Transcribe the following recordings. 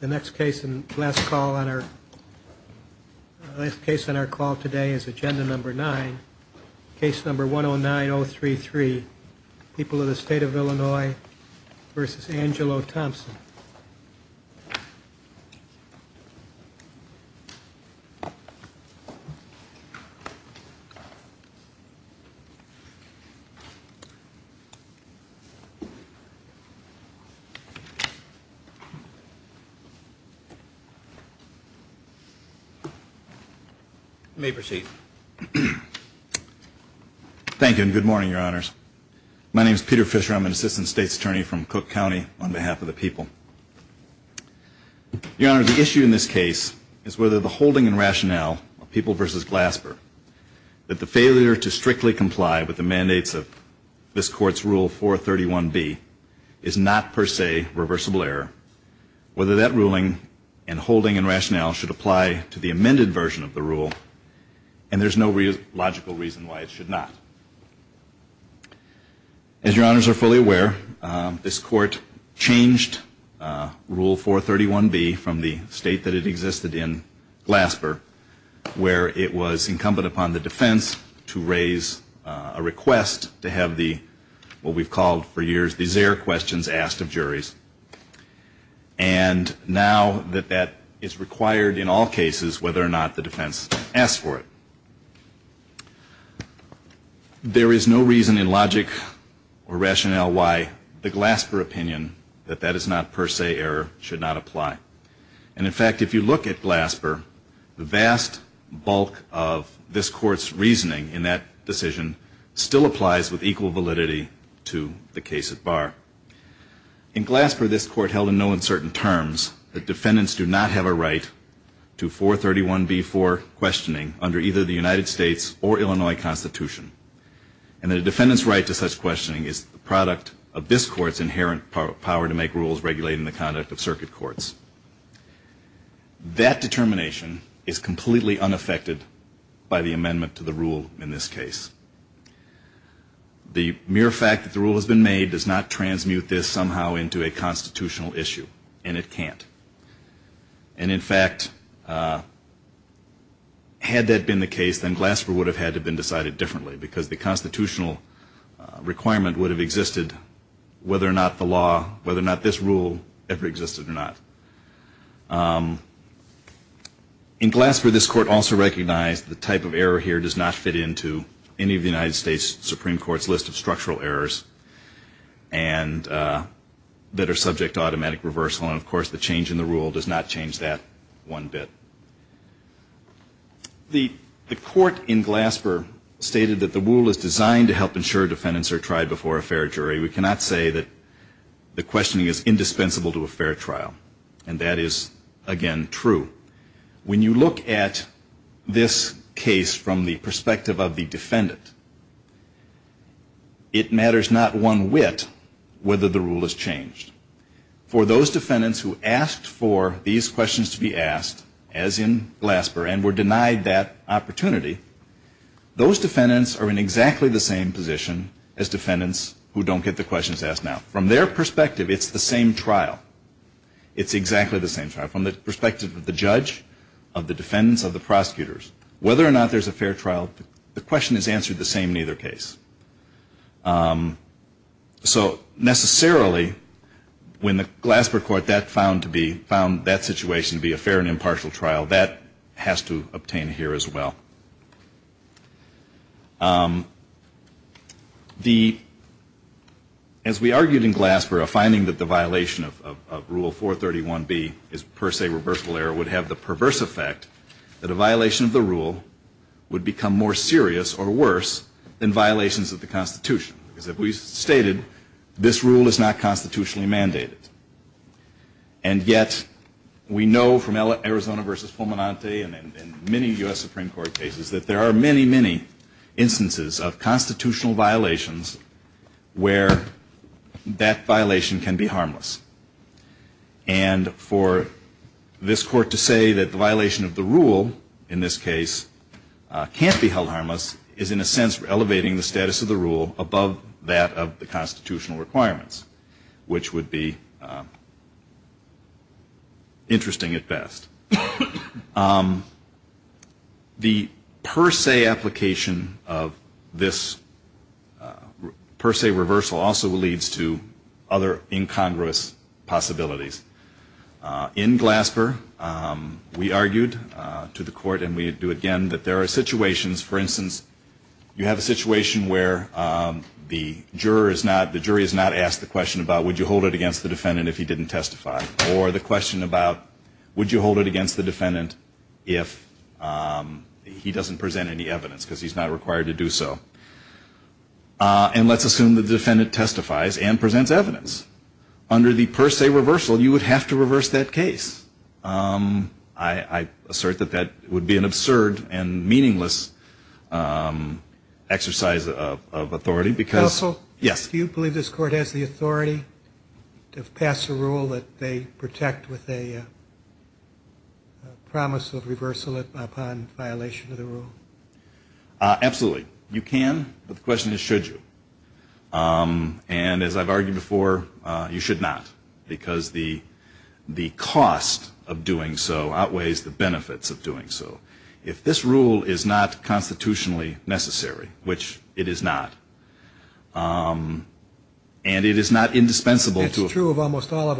The next case and last call on our last case on our call today is agenda number nine, case number 109033. People of the state of Illinois versus Angelo Thompson. You may proceed. Thank you and good morning, your honors. My name is Peter Fisher. I'm an assistant state's attorney from Cook County on behalf of the people. Your honor, the issue in this case is whether the holding and rationale of People v. Glasper that the failure to strictly comply with the mandates of this court's rule 431B is not per se reversible error. Whether that ruling and holding and rationale should apply to the amended version of the rule and there's no logical reason why it should not. As your honors are fully aware, this court changed rule 431B from the state that it existed in, Glasper, where it was incumbent upon the defense to raise a request to have the, what we've called for years, these air questions asked of juries. And now that that is required in all cases whether or not the defense asks for it. There is no reason in logic or rationale why the Glasper opinion that that is not per se error should not apply. And in fact, if you look at Glasper, the vast bulk of this court's reasoning in that decision still applies with equal validity to the case at bar. In Glasper, this court held in no uncertain terms that defendants do not have a right to 431B for questioning under either the United States or Illinois Constitution. And that a defendant's right to such questioning is the product of this court's inherent power to make rules regulating the conduct of circuit courts. That determination is completely unaffected by the amendment to the rule in this case. The mere fact that the rule has been made does not transmute this somehow into a constitutional issue, and it can't. And in fact, had that been the case, then Glasper would have had to have been decided differently, because the constitutional requirement would have existed whether or not the law, whether or not this rule ever existed or not. In Glasper, this court also recognized the type of error here does not fit into any of the United States Supreme Court's list of structural errors and that are subject to automatic reversal, and of course, the change in the rule does not change that one bit. The court in Glasper stated that the rule is designed to help ensure defendants are tried before a fair jury. We cannot say that the questioning is indispensable to a fair trial, and that is, again, true. When you look at this case from the perspective of the defendant, it matters not one whit whether the rule is changed. For those defendants who asked for these questions to be asked, as in Glasper, and were denied that opportunity, those defendants are in exactly the same position as defendants who don't get the questions asked now. From their perspective, it's the same trial. It's exactly the same trial. From the perspective of the judge, of the defendants, of the prosecutors, whether or not there's a fair trial, the question is answered the same in either case. So necessarily, when the Glasper court found that situation to be a fair and impartial trial, that has to obtain here as well. As we argued in Glasper, a finding that the violation of Rule 431B is per se reversible error would have the perverse effect that a violation of the rule would become more serious or worse than violations of the Constitution. As we stated, this rule is not constitutionally mandated. And yet we know from Arizona v. Fulminante and many U.S. Supreme Court cases that there are many, many instances of constitutional violations where that violation can be harmless. And for this court to say that the violation of the rule in this case can't be held harmless is, in a sense, elevating the status of the rule above that of the constitutional requirements, which would be interesting at best. The per se application of this per se reversal also leads to other incongruous possibilities. In Glasper, we argued to the court, and we do again, that there are situations, for instance, you have a case where you have a situation where the juror is not, the jury is not asked the question about would you hold it against the defendant if he didn't testify, or the question about would you hold it against the defendant if he doesn't present any evidence because he's not required to do so. And let's assume the defendant testifies and presents evidence. Under the per se reversal, you would have to reverse that case. I assert that that would be an absurd and meaningless exercise of authority, because yes. Do you believe this court has the authority to pass a rule that they protect with a promise of reversal upon violation of the rule? Absolutely. You can, but the question is should you. And as I've argued before, you should not, because the cost of the doing so outweighs the benefits of doing so. If this rule is not constitutionally necessary, which it is not, and it is not indispensable to a fair trial,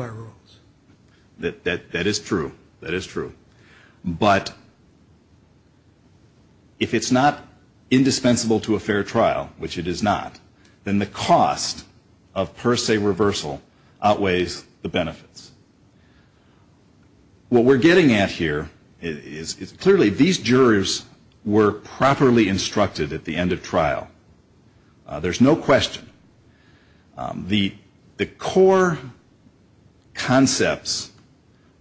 which it is not, then the cost of per se reversal outweighs the benefits. What we're getting at here is clearly these jurors were properly instructed at the end of trial. There's no question. The core concepts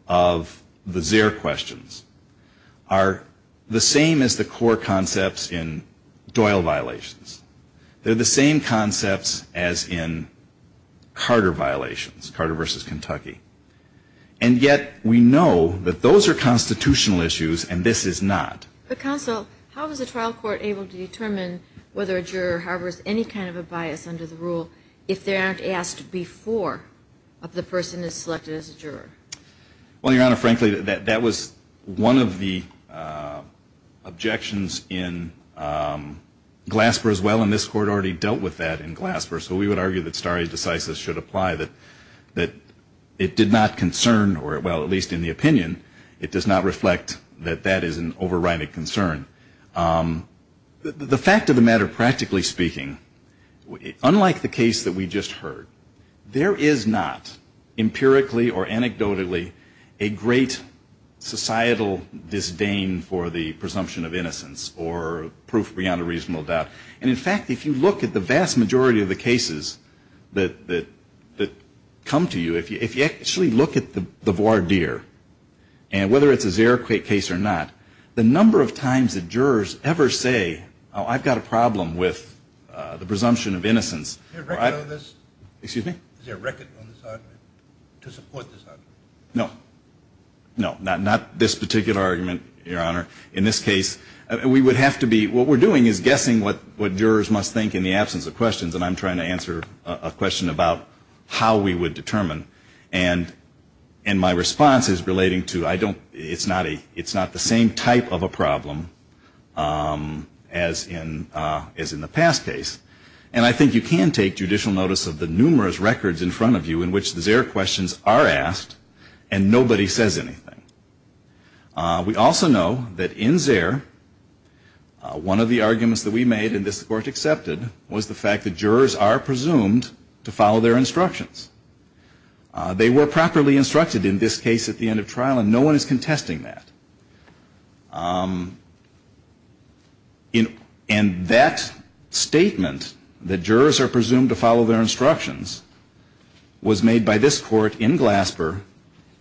of the Zerr questions are the same as the core concepts in Doyle violations. They're the same concepts as in Carter violations, Carter v. Kentucky. And yet we know that those are constitutional issues and this is not. But counsel, how is a trial court able to determine whether a juror harbors any kind of a bias under the rule if they aren't asked before if the person is selected as a juror? Well, Your Honor, frankly, that was one of the objections in Glasper as well, and this court already dealt with that in Glasper. So we would argue that stare decisis should apply, that it did not concern or, well, at least in the opinion, it does not reflect that that is an overriding concern. The fact of the matter, practically speaking, unlike the case that we just heard, there is not empirically or anecdotally a great societal disdain for the presumption of innocence or proof beyond a reasonable doubt. And in fact, if you look at the vast majority of the cases that come to you, if you actually look at the voir dire and whether it's a Zerr case or not, the number of times that jurors ever say, oh, I've got a problem with the presumption of innocence. Is there a record on this argument to support this argument? No. No, not this particular argument, Your Honor. In this case, we would have to be, what we're doing is guessing what jurors must be thinking in the absence of questions, and I'm trying to answer a question about how we would determine. And my response is relating to, it's not the same type of a problem as in the past case. And I think you can take judicial notice of the numerous records in front of you in which the Zerr questions are asked and nobody says anything. We also know that in Zerr, one of the arguments that we made, and this Court accepted, was the fact that jurors are presumed to follow their instructions. They were properly instructed in this case at the end of trial, and no one is contesting that. And that statement, that jurors are presumed to follow their instructions, was made by this Court in Glasper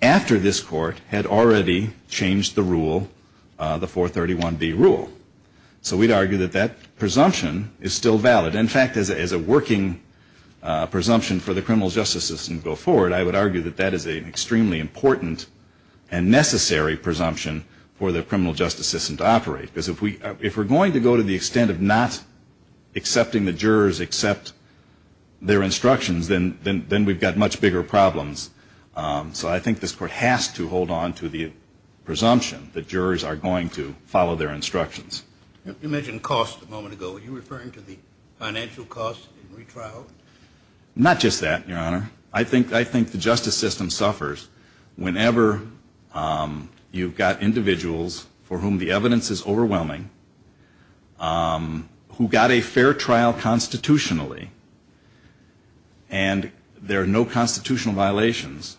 after this Court had already changed the rule, the 431B rule. So we'd argue that that presumption is not the same as the presumption is still valid. In fact, as a working presumption for the criminal justice system to go forward, I would argue that that is an extremely important and necessary presumption for the criminal justice system to operate. Because if we're going to go to the extent of not accepting the jurors accept their instructions, then we've got much bigger problems. So I think this Court has to hold on to the presumption that jurors are going to Are you referring to the financial costs in retrial? Not just that, Your Honor. I think the justice system suffers whenever you've got individuals for whom the evidence is overwhelming, who got a fair trial constitutionally, and there are no constitutional violations.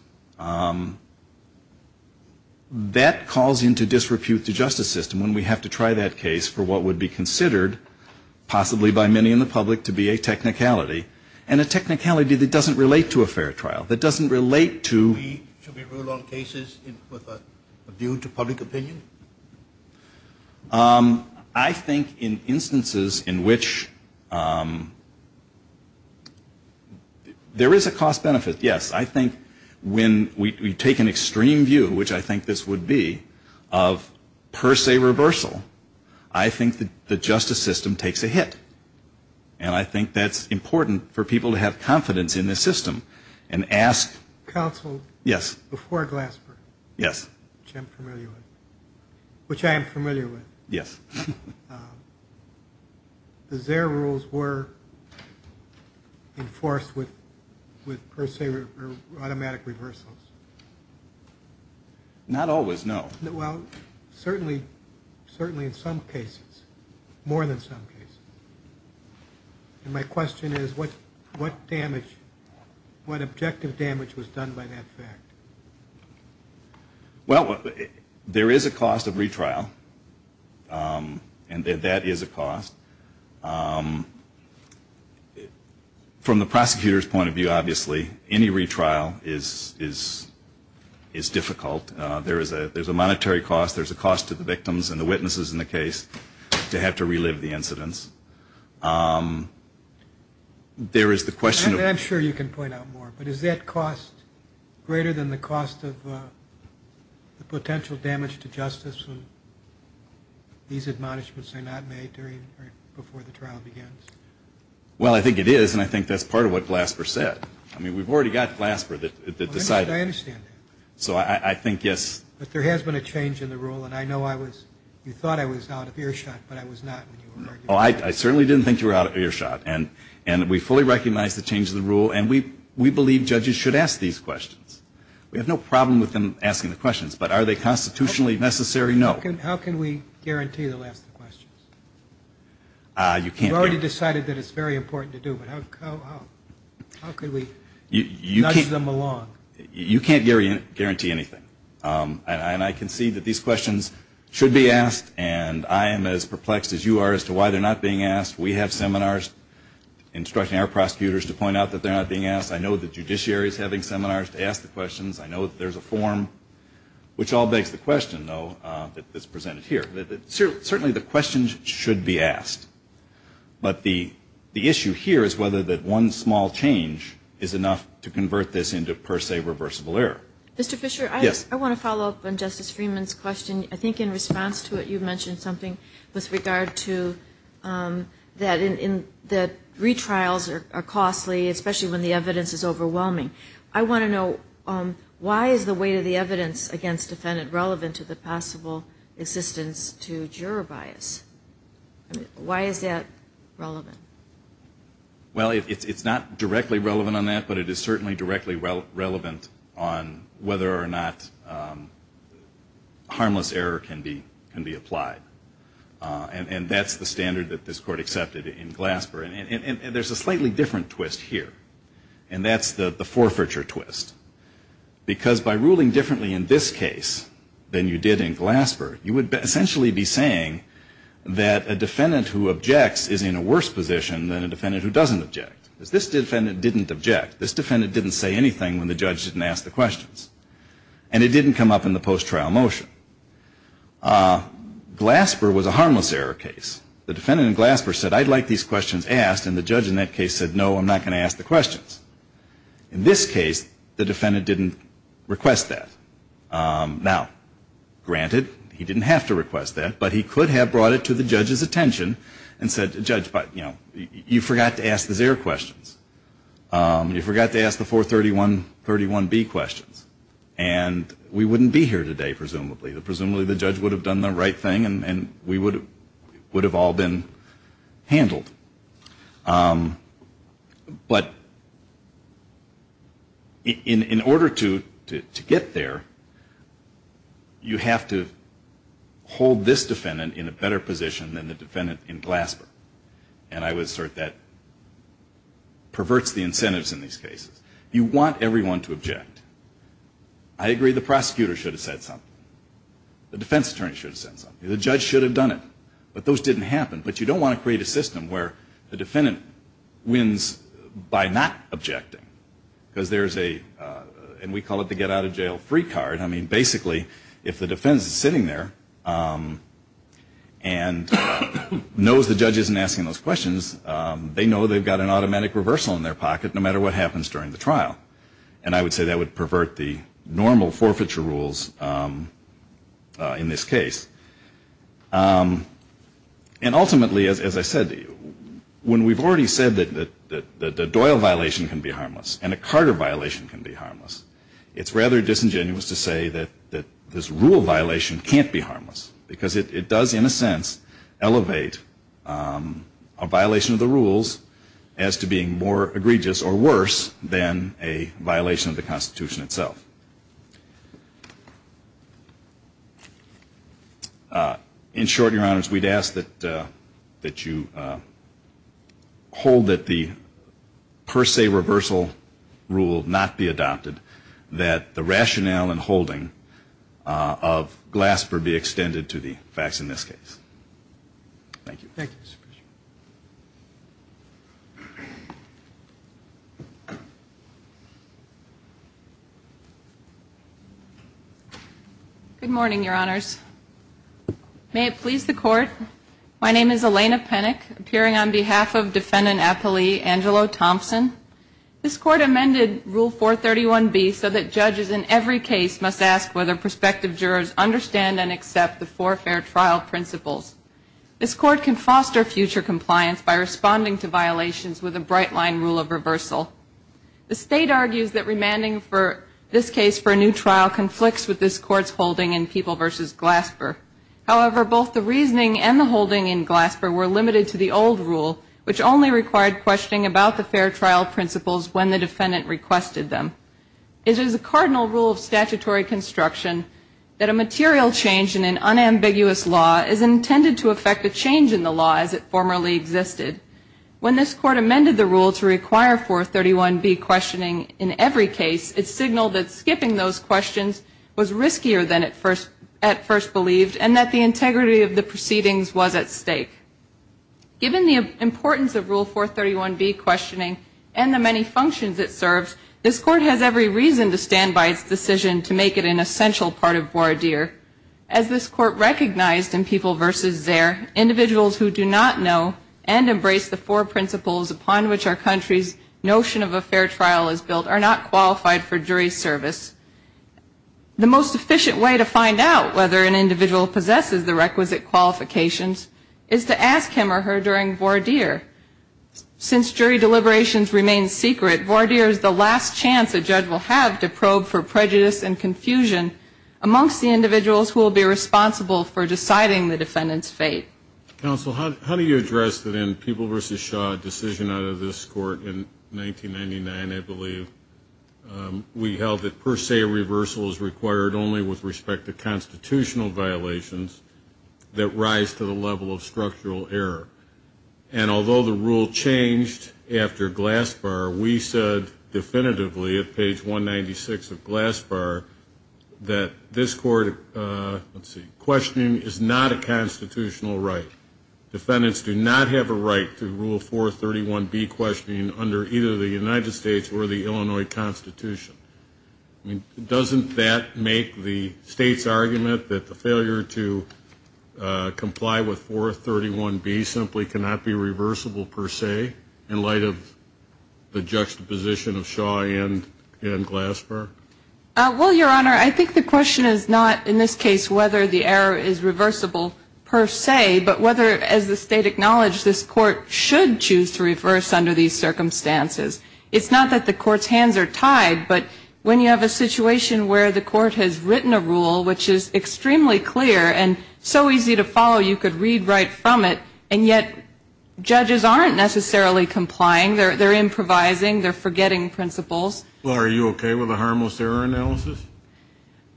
That calls into disrepute to the justice system when we have to try that case for what would be considered, possibly by many in the public, to be a technicality, and a technicality that doesn't relate to a fair trial, that doesn't relate to Should we rule on cases with a view to public opinion? I think in instances in which there is a cost-benefit, yes. I think when we take an extreme view, which I think this would be, of per se reversal, I think the justice system takes a hit. And I think that's important for people to have confidence in this system and ask Counsel, before Glasper, which I am familiar with, does their rules were enforced with per se automatic reversals? Not always, no. Well, certainly in some cases, more than some cases. And my question is, what damage, what objective damage was done by that fact? Well, there is a cost of retrial, and that is a cost. From the prosecutor's point of view, obviously, any retrial is a cost. It's difficult. There's a monetary cost. There's a cost to the victims and the witnesses in the case to have to relive the incidents. There is the question of I'm sure you can point out more, but is that cost greater than the cost of the potential damage to justice when these admonishments are not made before the trial begins? Well, I think it is, and I think that's part of what Glasper said. I mean, we've already got Glasper that decided I understand that. So I think, yes. But there has been a change in the rule, and I know I was, you thought I was out of earshot, but I was not when you were arguing. Oh, I certainly didn't think you were out of earshot. And we fully recognize the change in the rule, and we believe judges should ask these questions. We have no problem with them asking the questions, but are they constitutionally necessary? No. How can we guarantee they'll ask the questions? You can't guarantee. We've already decided that it's very important to do, but how can we nudge them along? You can't guarantee anything. And I concede that these questions should be asked, and I am as perplexed as you are as to why they're not being asked. We have seminars instructing our prosecutors to point out that they're not being asked. I know the judiciary is having seminars to ask the questions. I know that there's a form, which all begs the question, though, that's presented here, that certainly the questions should be asked. But the issue here is whether that one small change is enough to convert this into, per se, reversible error. Mr. Fisher, I want to follow up on Justice Freeman's question. I think in response to it you mentioned something with regard to that retrials are costly, especially when the evidence is overwhelming. I want to know, why is the weight of the evidence against defendant relevant to the possible assistance to juror bias? Why is that relevant? Well, it's not directly relevant on that, but it is certainly directly relevant on whether or not harmless error can be applied. And that's the standard that this Court accepted in Glasper. And there's a slightly different twist here, and that's the forfeiture twist. Because by ruling differently in this case than you did in Glasper, you would essentially be saying that a defendant who objects is in a worse position than a defendant who doesn't object. Because this defendant didn't object. This defendant didn't say anything when the judge didn't ask the questions. And it didn't come up in the post-trial motion. Glasper was a harmless error case. The defendant in Glasper said, I'd like these questions asked, and the judge in that case said, no, I'm not going to ask the questions. In this case, the defendant didn't request that. Now, granted, he didn't have to request that, but he could have brought it to the judge's attention and said, judge, you know, you forgot to ask the zero questions. You forgot to ask the 431B questions. And we wouldn't be here today, presumably. Presumably the judge would have done the right thing, and we would have all been handled. But in order to get there, you have to hold this defendant in a better position than the defendant in Glasper. And I would assert that perverts the incentives in these cases. You want everyone to object. I agree the prosecutor should have said something. The defense attorney should have said something. The judge should have done it. But those didn't happen. But you don't want to create a system where the defendant wins by not objecting. Because there's a, and we call it the get out of jail free card. I mean, basically, if the defense is sitting there and knows the judge isn't asking those questions, they know they've got an automatic reversal in their pocket, no matter what happens during the trial. And I would say that would pervert the normal forfeiture rules in this case. And ultimately, as I said, when we've already said that the Doyle violation can be harmless and a Carter violation can be harmless, it's rather disingenuous to say that this rule violation can't be harmless. Because it does, in a sense, elevate a violation of the rules as to being more egregious or worse than a violation of the Constitution itself. In short, Your Honors, we'd ask that you hold that the per se reversal rule not be adopted, that the rationale and holding of Glasper be extended to the facts in this case. Thank you. Thank you, Mr. Bishop. Good morning, Your Honors. May it please the Court, my name is Elena Penick, appearing on behalf of Defendant Appellee Angelo Thompson. This Court amended Rule 431B so that judges in every case must ask whether prospective jurors understand and accept the forfeiture trial principles. This Court can foster future compliance by responding to violations with a bright-line rule of reversal. The State argues that remanding for this case for a new trial conflicts with this Court's holding in People v. Glasper. However, both the reasoning and the holding in Glasper were limited to the old rule, which only required questioning about the fair trial principles when the defendant requested them. It is a cardinal rule of statutory construction that a material change in an unambiguous law is intended to affect a change in the law as it formerly existed. When this Court amended the rule to require 431B questioning in every case, it signaled that skipping those questions was riskier than at first believed, and that the integrity of the proceedings was at stake. Given the importance of Rule 431B questioning and the many functions it serves, this Court has every reason to stand by its decision to make it an essential part of voir dire. As this Court recognized in People v. Zare, individuals who do not know and embrace the four principles upon which our country's notion of a fair trial is built are not qualified for jury service. The most efficient way to find out whether an individual possesses the requisite qualifications is to ask him or her during voir dire. Since jury deliberations remain secret, voir dire is the last chance a judge will have to probe for prejudice and confusion amongst the individuals who will be responsible for deciding the defendant's fate. Counsel, how do you address the then People v. Shaw decision out of this Court in 1999, I believe, we held that per se reversal is required only with respect to constitutional violations that rise to the level of structural error, and although the rule changed after Glassbar, we said definitively at page 196 of Glassbar that this Court, let's see, questioning is not a constitutional right. Defendants do not have a right to rule 431B questioning under either the United States or the Illinois Constitution. Doesn't that make the State's argument that the failure to comply with 431B simply cannot be reversible per se in light of the juxtaposition of Shaw and Glassbar? Well, Your Honor, I think the question is not in this case whether the error is reversible per se, but whether, as the State acknowledged, this Court should choose to reverse under these circumstances. It's not that the Court's hands are tied, but when you have a situation where the Court has written a rule which is extremely clear and so easy to follow you could read right from it, and yet judges aren't necessarily complying. They're improvising. They're forgetting principles. Well, are you okay with a harmless error analysis?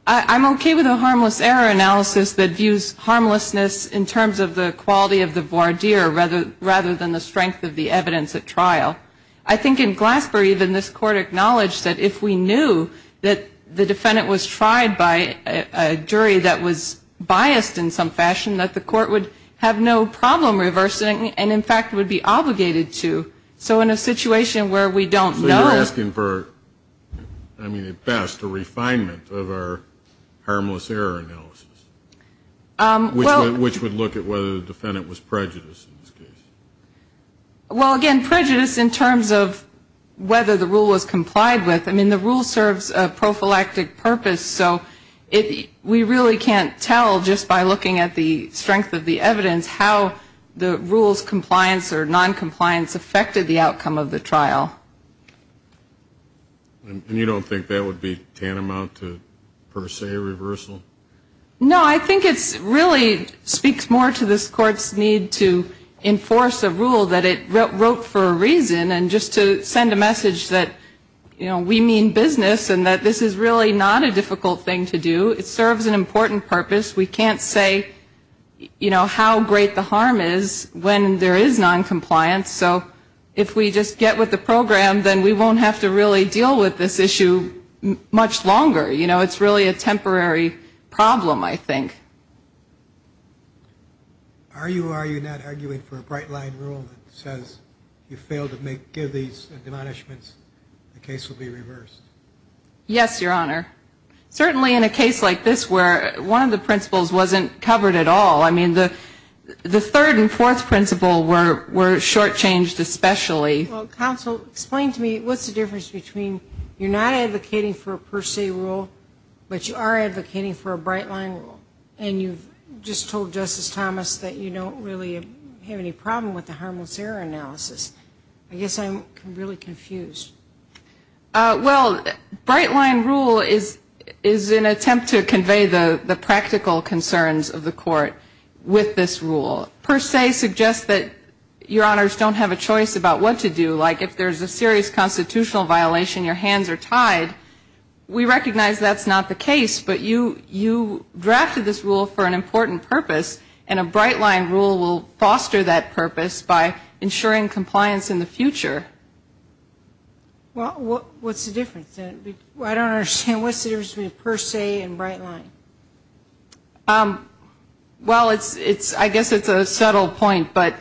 I'm okay with a harmless error analysis that views harmlessness in terms of the quality of the voir dire rather than the strength of the evidence at trial. I think in Glassbar even this Court acknowledged that if we knew that the defendant was tried by a jury that was biased in some fashion, that the Court would have no problem reversing and, in fact, would be obligated to. So in a situation where we don't know. So you're asking for, I mean, at best, a refinement of our harmless error analysis, which would look at whether the defendant was tried by a jury. Well, again, prejudice in terms of whether the rule was complied with. I mean, the rule serves a prophylactic purpose, so we really can't tell just by looking at the strength of the evidence how the rule's compliance or noncompliance affected the outcome of the trial. And you don't think that would be tantamount to per se reversal? I mean, it's a force of rule that it wrote for a reason, and just to send a message that, you know, we mean business and that this is really not a difficult thing to do. It serves an important purpose. We can't say, you know, how great the harm is when there is noncompliance. So if we just get with the program, then we won't have to really deal with this issue much longer. You know, it's really a temporary problem, I think. Are you or are you not arguing for a bright-line rule that says if you fail to give these admonishments, the case will be reversed? Yes, Your Honor. Certainly in a case like this where one of the principles wasn't covered at all. I mean, the third and fourth principle were shortchanged especially. Well, counsel, explain to me what's the difference between you're not advocating for a per se rule, but you are advocating for a bright-line rule. And you've just told Justice Thomas that you don't really have any problem with the harmless error analysis. I guess I'm really confused. Well, bright-line rule is an attempt to convey the practical concerns of the court with this rule. Per se suggests that Your Honors don't have a choice about what to do. Like if there's a serious constitutional violation, your hands are tied. We recognize that's not the case. But you drafted this rule for an important purpose, and a bright-line rule will foster that purpose by ensuring compliance in the future. Well, what's the difference? I don't understand. What's the difference between per se and bright-line? Well, I guess it's a subtle point, but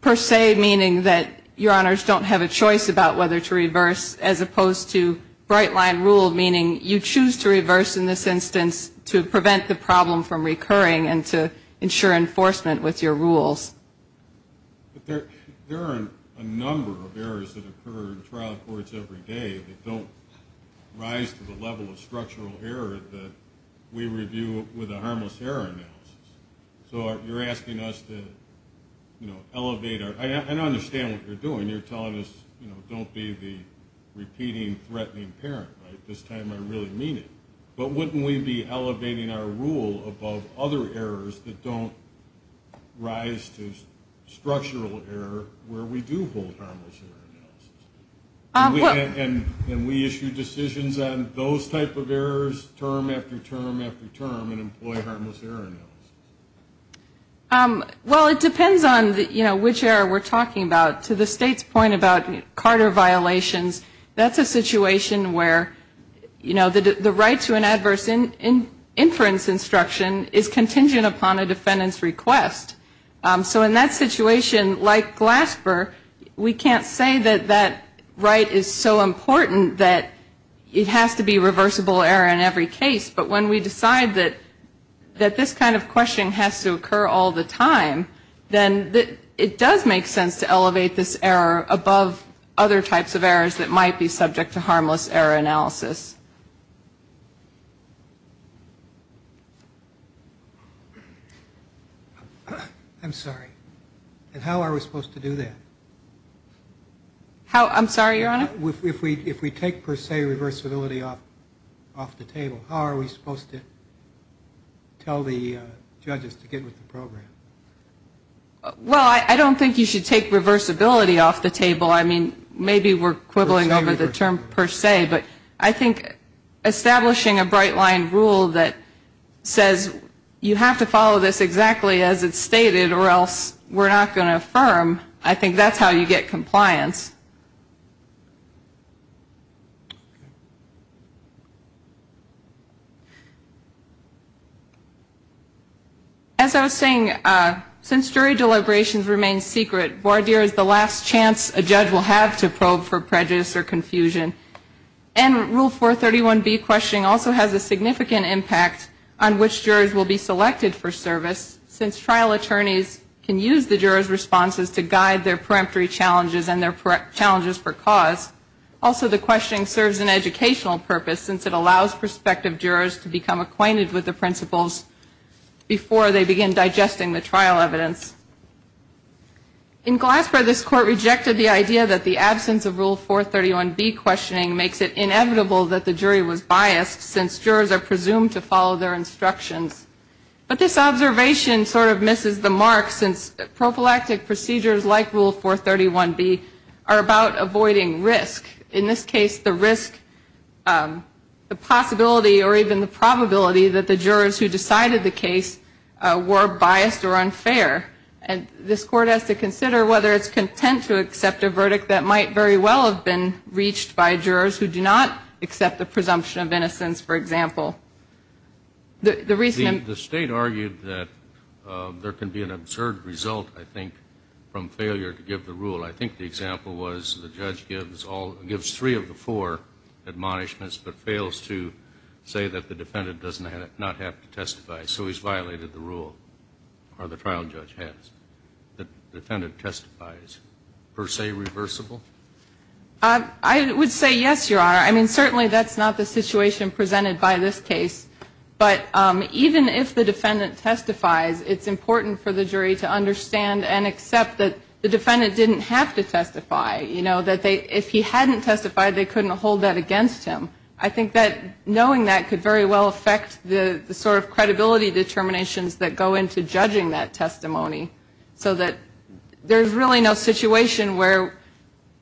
per se meaning that Your Honors don't have a choice about whether to reverse as opposed to bright-line rule, meaning you choose to reverse in this instance to prevent the problem from recurring and to ensure enforcement with your rules. But there are a number of errors that occur in trial courts every day that don't rise to the level of structural error that we review with a harmless error analysis. So you're asking us to elevate our – I understand what you're doing. You're telling us don't be the repeating, threatening parent, right? This time I really mean it. But wouldn't we be elevating our rule above other errors that don't rise to structural error where we do hold harmless error analysis? And we issue decisions on those type of errors term after term after term and employ harmless error analysis. Well, it depends on which error we're talking about. To the State's point about Carter violations, that's a situation where, you know, the right to an adverse inference instruction is contingent upon a defendant's request. So in that situation, like Glasper, we can't say that that right is so important that it has to be reversible error in every case. But when we decide that this kind of questioning has to occur all the time, then it does make sense to elevate the rule above other errors. It does make sense to elevate this error above other types of errors that might be subject to harmless error analysis. I'm sorry. And how are we supposed to do that? I'm sorry, Your Honor? If we take, per se, reversibility off the table, how are we supposed to tell the judges to get with the program? I mean, maybe we're quibbling over the term per se. But I think establishing a bright-line rule that says you have to follow this exactly as it's stated or else we're not going to affirm, I think that's how you get compliance. As I was saying, since jury deliberations remain secret, voir dire is the last chance a judge will have to probe for prejudice or confusion. And Rule 431B questioning also has a significant impact on which jurors will be selected for service, since trial attorneys can use the jurors' responses to guide their peremptory challenges and their challenges for cause. Also, the questioning serves an educational purpose, since it allows prospective jurors to become acquainted with the principles before they begin digesting the trial evidence. In Glasper, this Court rejected the idea that the absence of Rule 431B questioning makes it inevitable that the jury was biased, since jurors are presumed to follow their instructions. But this observation sort of misses the mark, since prophylactic procedures like Rule 431B are about avoiding risk. In this case, the risk, the possibility or even the probability that the jurors who decided the case were biased or unfair. And this Court has to consider whether it's content to accept a verdict that might very well have been reached by jurors who do not accept the presumption of innocence, for example. The reason the State argued that there can be an absurd result, I think, from failure to give the rule. I think the example was the judge gives all, gives three of the four admonishments, but fails to say that the defendant does not have to testify, so he's violated the rule, or the trial judge has. The defendant testifies. Per se reversible? I would say yes, Your Honor. I mean, certainly that's not the situation presented by this case. But even if the defendant testifies, it's important for the jury to understand and accept that the defendant didn't have to testify. You know, that they, if he hadn't testified, they couldn't hold that against him. I think that knowing that could very well affect the sort of credibility determinations that go into judging that testimony. So that there's really no situation where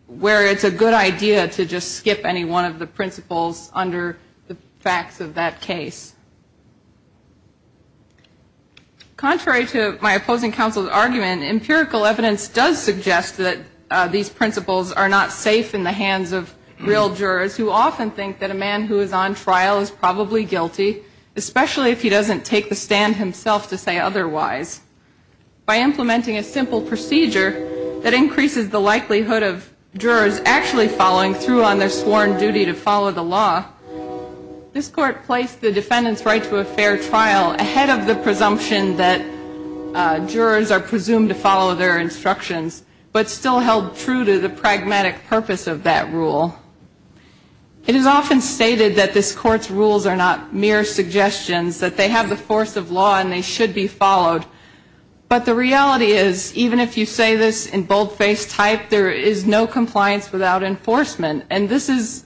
it's a good idea to just skip any one of the principles under the facts of that case. Contrary to my opposing counsel's argument, empirical evidence does suggest that these principles are not safe in the hands of real jurors, who often think that a man who is on trial is probably guilty, especially if he doesn't take the stand himself to say otherwise. By implementing a simple procedure that increases the likelihood of jurors actually following through on their sworn duty to follow the law, this Court placed the defendant's right to a fair trial ahead of the presumption that jurors are presumed to follow their instructions, but still held true to the pragmatic purpose of that rule. It is often stated that this Court's rules are not mere suggestions, that they have the force of law and they should be followed. But the reality is, even if you say this in boldface type, there is no compliance without enforcement. And this is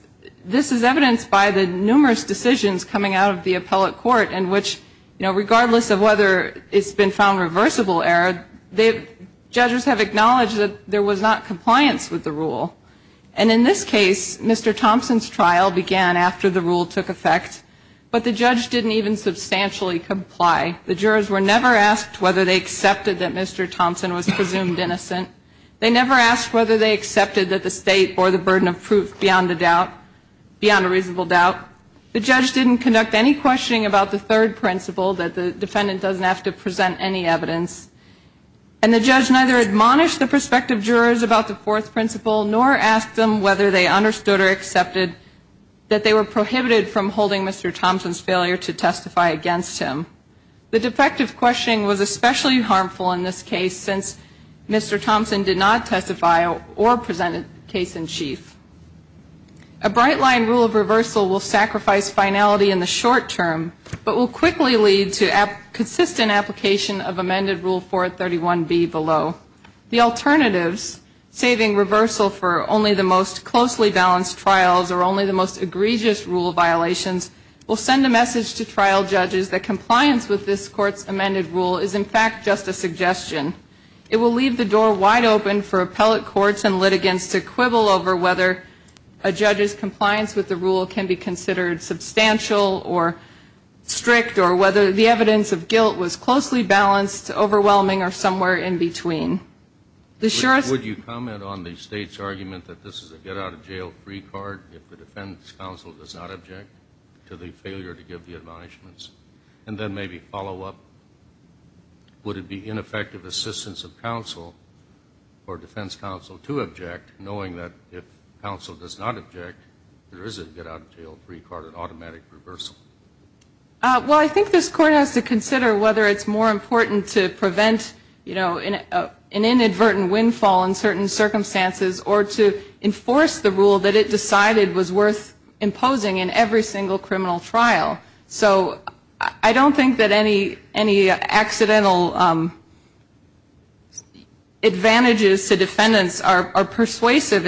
evidenced by the numerous decisions coming out of the appellate court in which, you know, regardless of whether it's been found reversible error, judges have acknowledged that there was not compliance with the rule. And in this case, Mr. Thompson's trial began after the rule took effect, but the judge didn't even substantially comply. The jurors were never asked whether they accepted that Mr. Thompson was presumed innocent. They never asked whether they accepted that the State bore the burden of proof beyond a doubt, beyond a reasonable doubt. The judge didn't conduct any questioning about the third principle, that the defendant doesn't have to present any evidence. And the judge neither admonished the prospective jurors about the fourth principle, nor asked them whether they understood or accepted that they were prohibited from holding Mr. Thompson's failure to testify against him. The defective questioning was especially harmful in this case, since Mr. Thompson did not testify or present a case in chief. A bright line rule of reversal will sacrifice finality in the short term, but will quickly lead to consistent application of amended Rule 431B below. The alternatives, saving reversal for only the most closely balanced trials or only the most egregious rule violations, will send a message to trial judges that compliance with this Court's amended rule is in fact just a suggestion. It will leave the door wide open for appellate courts and litigants to quibble over whether a judge's compliance with the rule can be considered substantial or strict, or whether the evidence of guilt was closely balanced, overwhelming, or somewhere in between. The jurors ---- Would you comment on the State's argument that this is a get-out-of-jail-free card if the defense counsel does not object? And then maybe follow up, would it be ineffective assistance of counsel or defense counsel to object, knowing that if counsel does not object, there is a get-out-of-jail-free card, an automatic reversal? Well, I think this Court has to consider whether it's more important to prevent, you know, an inadvertent windfall in certain circumstances or to enforce the rule that it decided was worth imposing in every single criminal trial. So I don't think that any accidental advantages to defendants are persuasive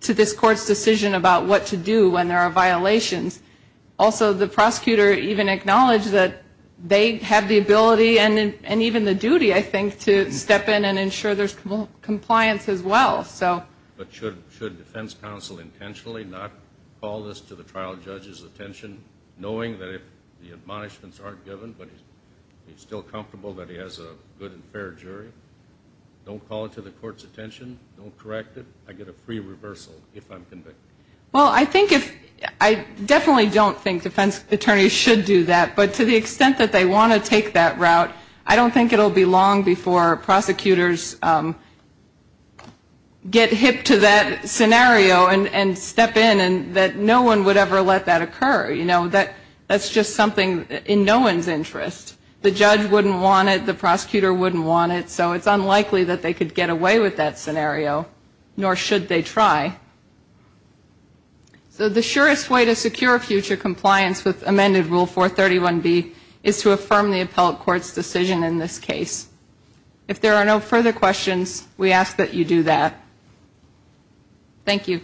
to this Court's decision about what to do when there are violations. Also, the prosecutor even acknowledged that they have the ability and even the duty, I think, to step in and ensure there's compliance as well. But should defense counsel intentionally not call this to the trial judge's attention, knowing that if the admonishments aren't given, but he's still comfortable that he has a good and fair jury, don't call it to the court's attention, don't correct it, I get a free reversal if I'm convicted? Well, I think if ---- I definitely don't think defense attorneys should do that. But to the extent that they want to take that route, I don't think it will be long before prosecutors get hip to that scenario and step in and that no one would ever let that occur. You know, that's just something in no one's interest. The judge wouldn't want it. The prosecutor wouldn't want it. So it's unlikely that they could get away with that scenario, nor should they try. So the surest way to secure future compliance with amended Rule 431B is to affirm the appellate court's decision in this case. If there are no further questions, we ask that you do that. Thank you.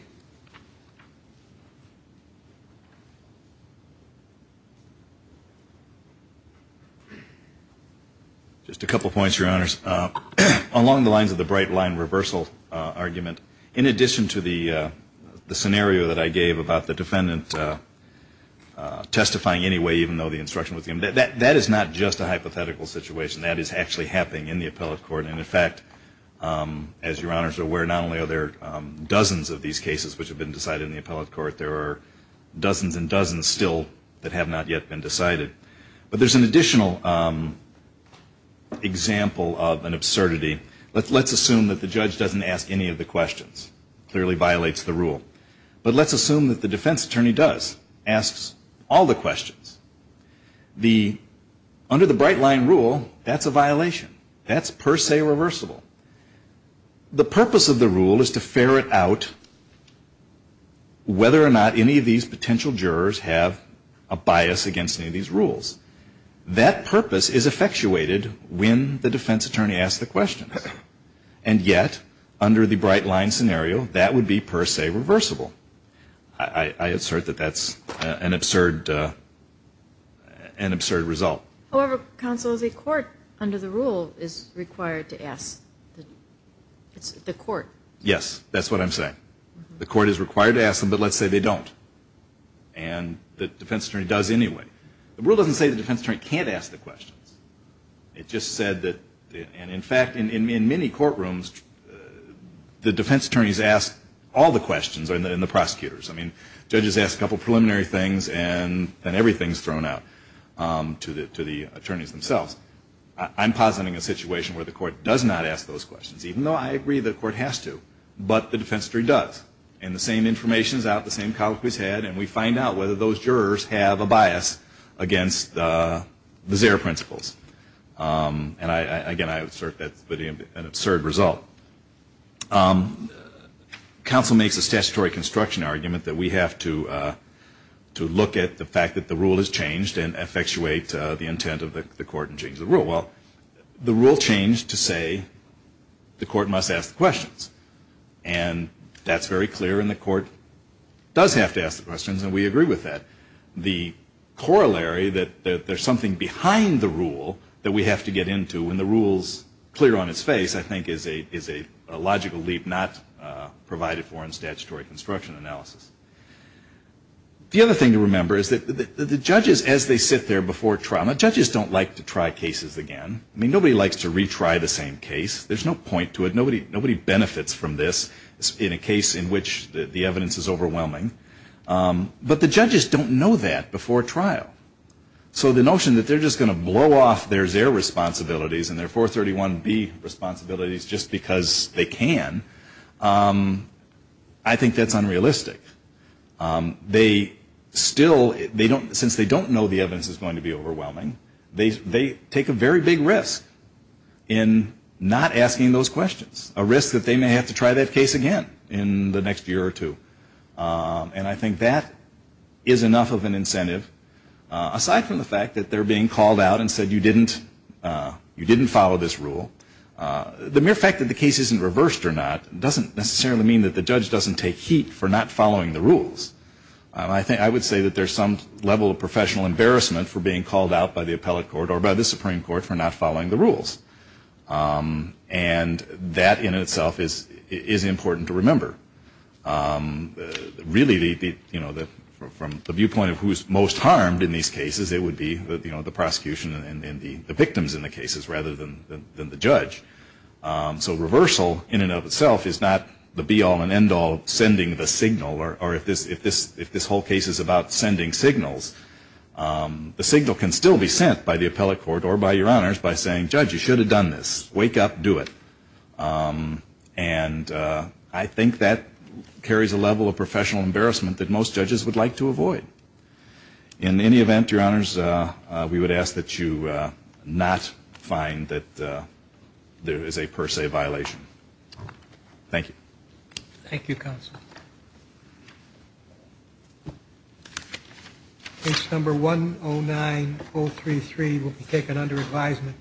Just a couple points, Your Honors. Along the lines of the bright line reversal argument, in addition to the scenario that I gave about the defendant testifying anyway, even though the instruction was given, that is not just a hypothetical situation. That is actually happening in the appellate court, and in fact, as Your Honors are aware, not only are there dozens of these cases which have been decided in the appellate court, there are dozens and dozens still that have not yet been decided. But there's an additional example of an absurdity. Let's assume that the judge doesn't ask any of the questions, clearly violates the rule. But let's assume that the defense attorney does, asks all the questions. Under the bright line rule, that's a violation. That's per se reversible. The purpose of the rule is to ferret out whether or not any of these potential jurors have a bias against any of these rules. That purpose is effectuated when the defense attorney asks the questions. And yet, under the bright line scenario, that would be per se reversible. I assert that that's an absurd result. However, counsel, the court under the rule is required to ask the court. Yes, that's what I'm saying. The court is required to ask them, but let's say they don't. And the defense attorney does anyway. The rule doesn't say the defense attorney can't ask the questions. It just said that, and in fact, in many courtrooms, the defense attorneys ask all the questions, and the prosecutors. I mean, judges ask a couple preliminary things, and then everything is thrown out to the attorneys themselves. I'm positing a situation where the court does not ask those questions, even though I agree the court has to. But the defense attorney does. And the same information is out, the same comment we've had, and we find out whether those jurors have a bias against the Zara principles. And again, I assert that's an absurd result. Counsel makes a statutory construction argument that we have to look at the fact that the rule has changed and effectuate the intent of the court and change the rule. Well, the rule changed to say the court must ask the questions. And that's very clear, and the court does have to ask the questions, and we agree with that. The corollary that there's something behind the rule that we have to get into when the rule's clear on its face, I think, is a logical leap not provided for in statutory construction analysis. The other thing to remember is that the judges, as they sit there before trial, the judges don't like to try cases again. I mean, nobody likes to retry the same case. There's no point to it. Nobody benefits from this in a case in which the evidence is overwhelming. But the judges don't know that before trial. So the notion that they're just going to blow off their Zara responsibilities and their 431B responsibilities just because they can, I think that's unrealistic. They still, since they don't know the evidence is going to be overwhelming, they take a very big risk in not asking those questions, a risk that they may have to try that case again in the next year or two. And I think that is enough of an incentive. Aside from the fact that they're being called out and said you didn't follow this rule, the mere fact that the case isn't reversed or not doesn't necessarily mean that the judge doesn't take heat for not following the rules. I would say that there's some level of professional embarrassment for being called out by the appellate court or by the Supreme Court for not following the rules. And that in itself is important to remember. Really, you know, from the viewpoint of who's most harmed in these cases, it would be, you know, the prosecution and the victims in the cases rather than the judge. So reversal in and of itself is not the be all and end all of sending the signal or if this whole case is about sending signals, the signal can still be sent by the appellate court or by your honors by saying judge, you should have done this. Wake up, do it. And I think that carries a level of professional embarrassment that most judges would like to avoid. In any event, your honors, we would ask that you not find that there is a per se violation. Thank you. Thank you, counsel. Case number 109033 will be taken under advisement.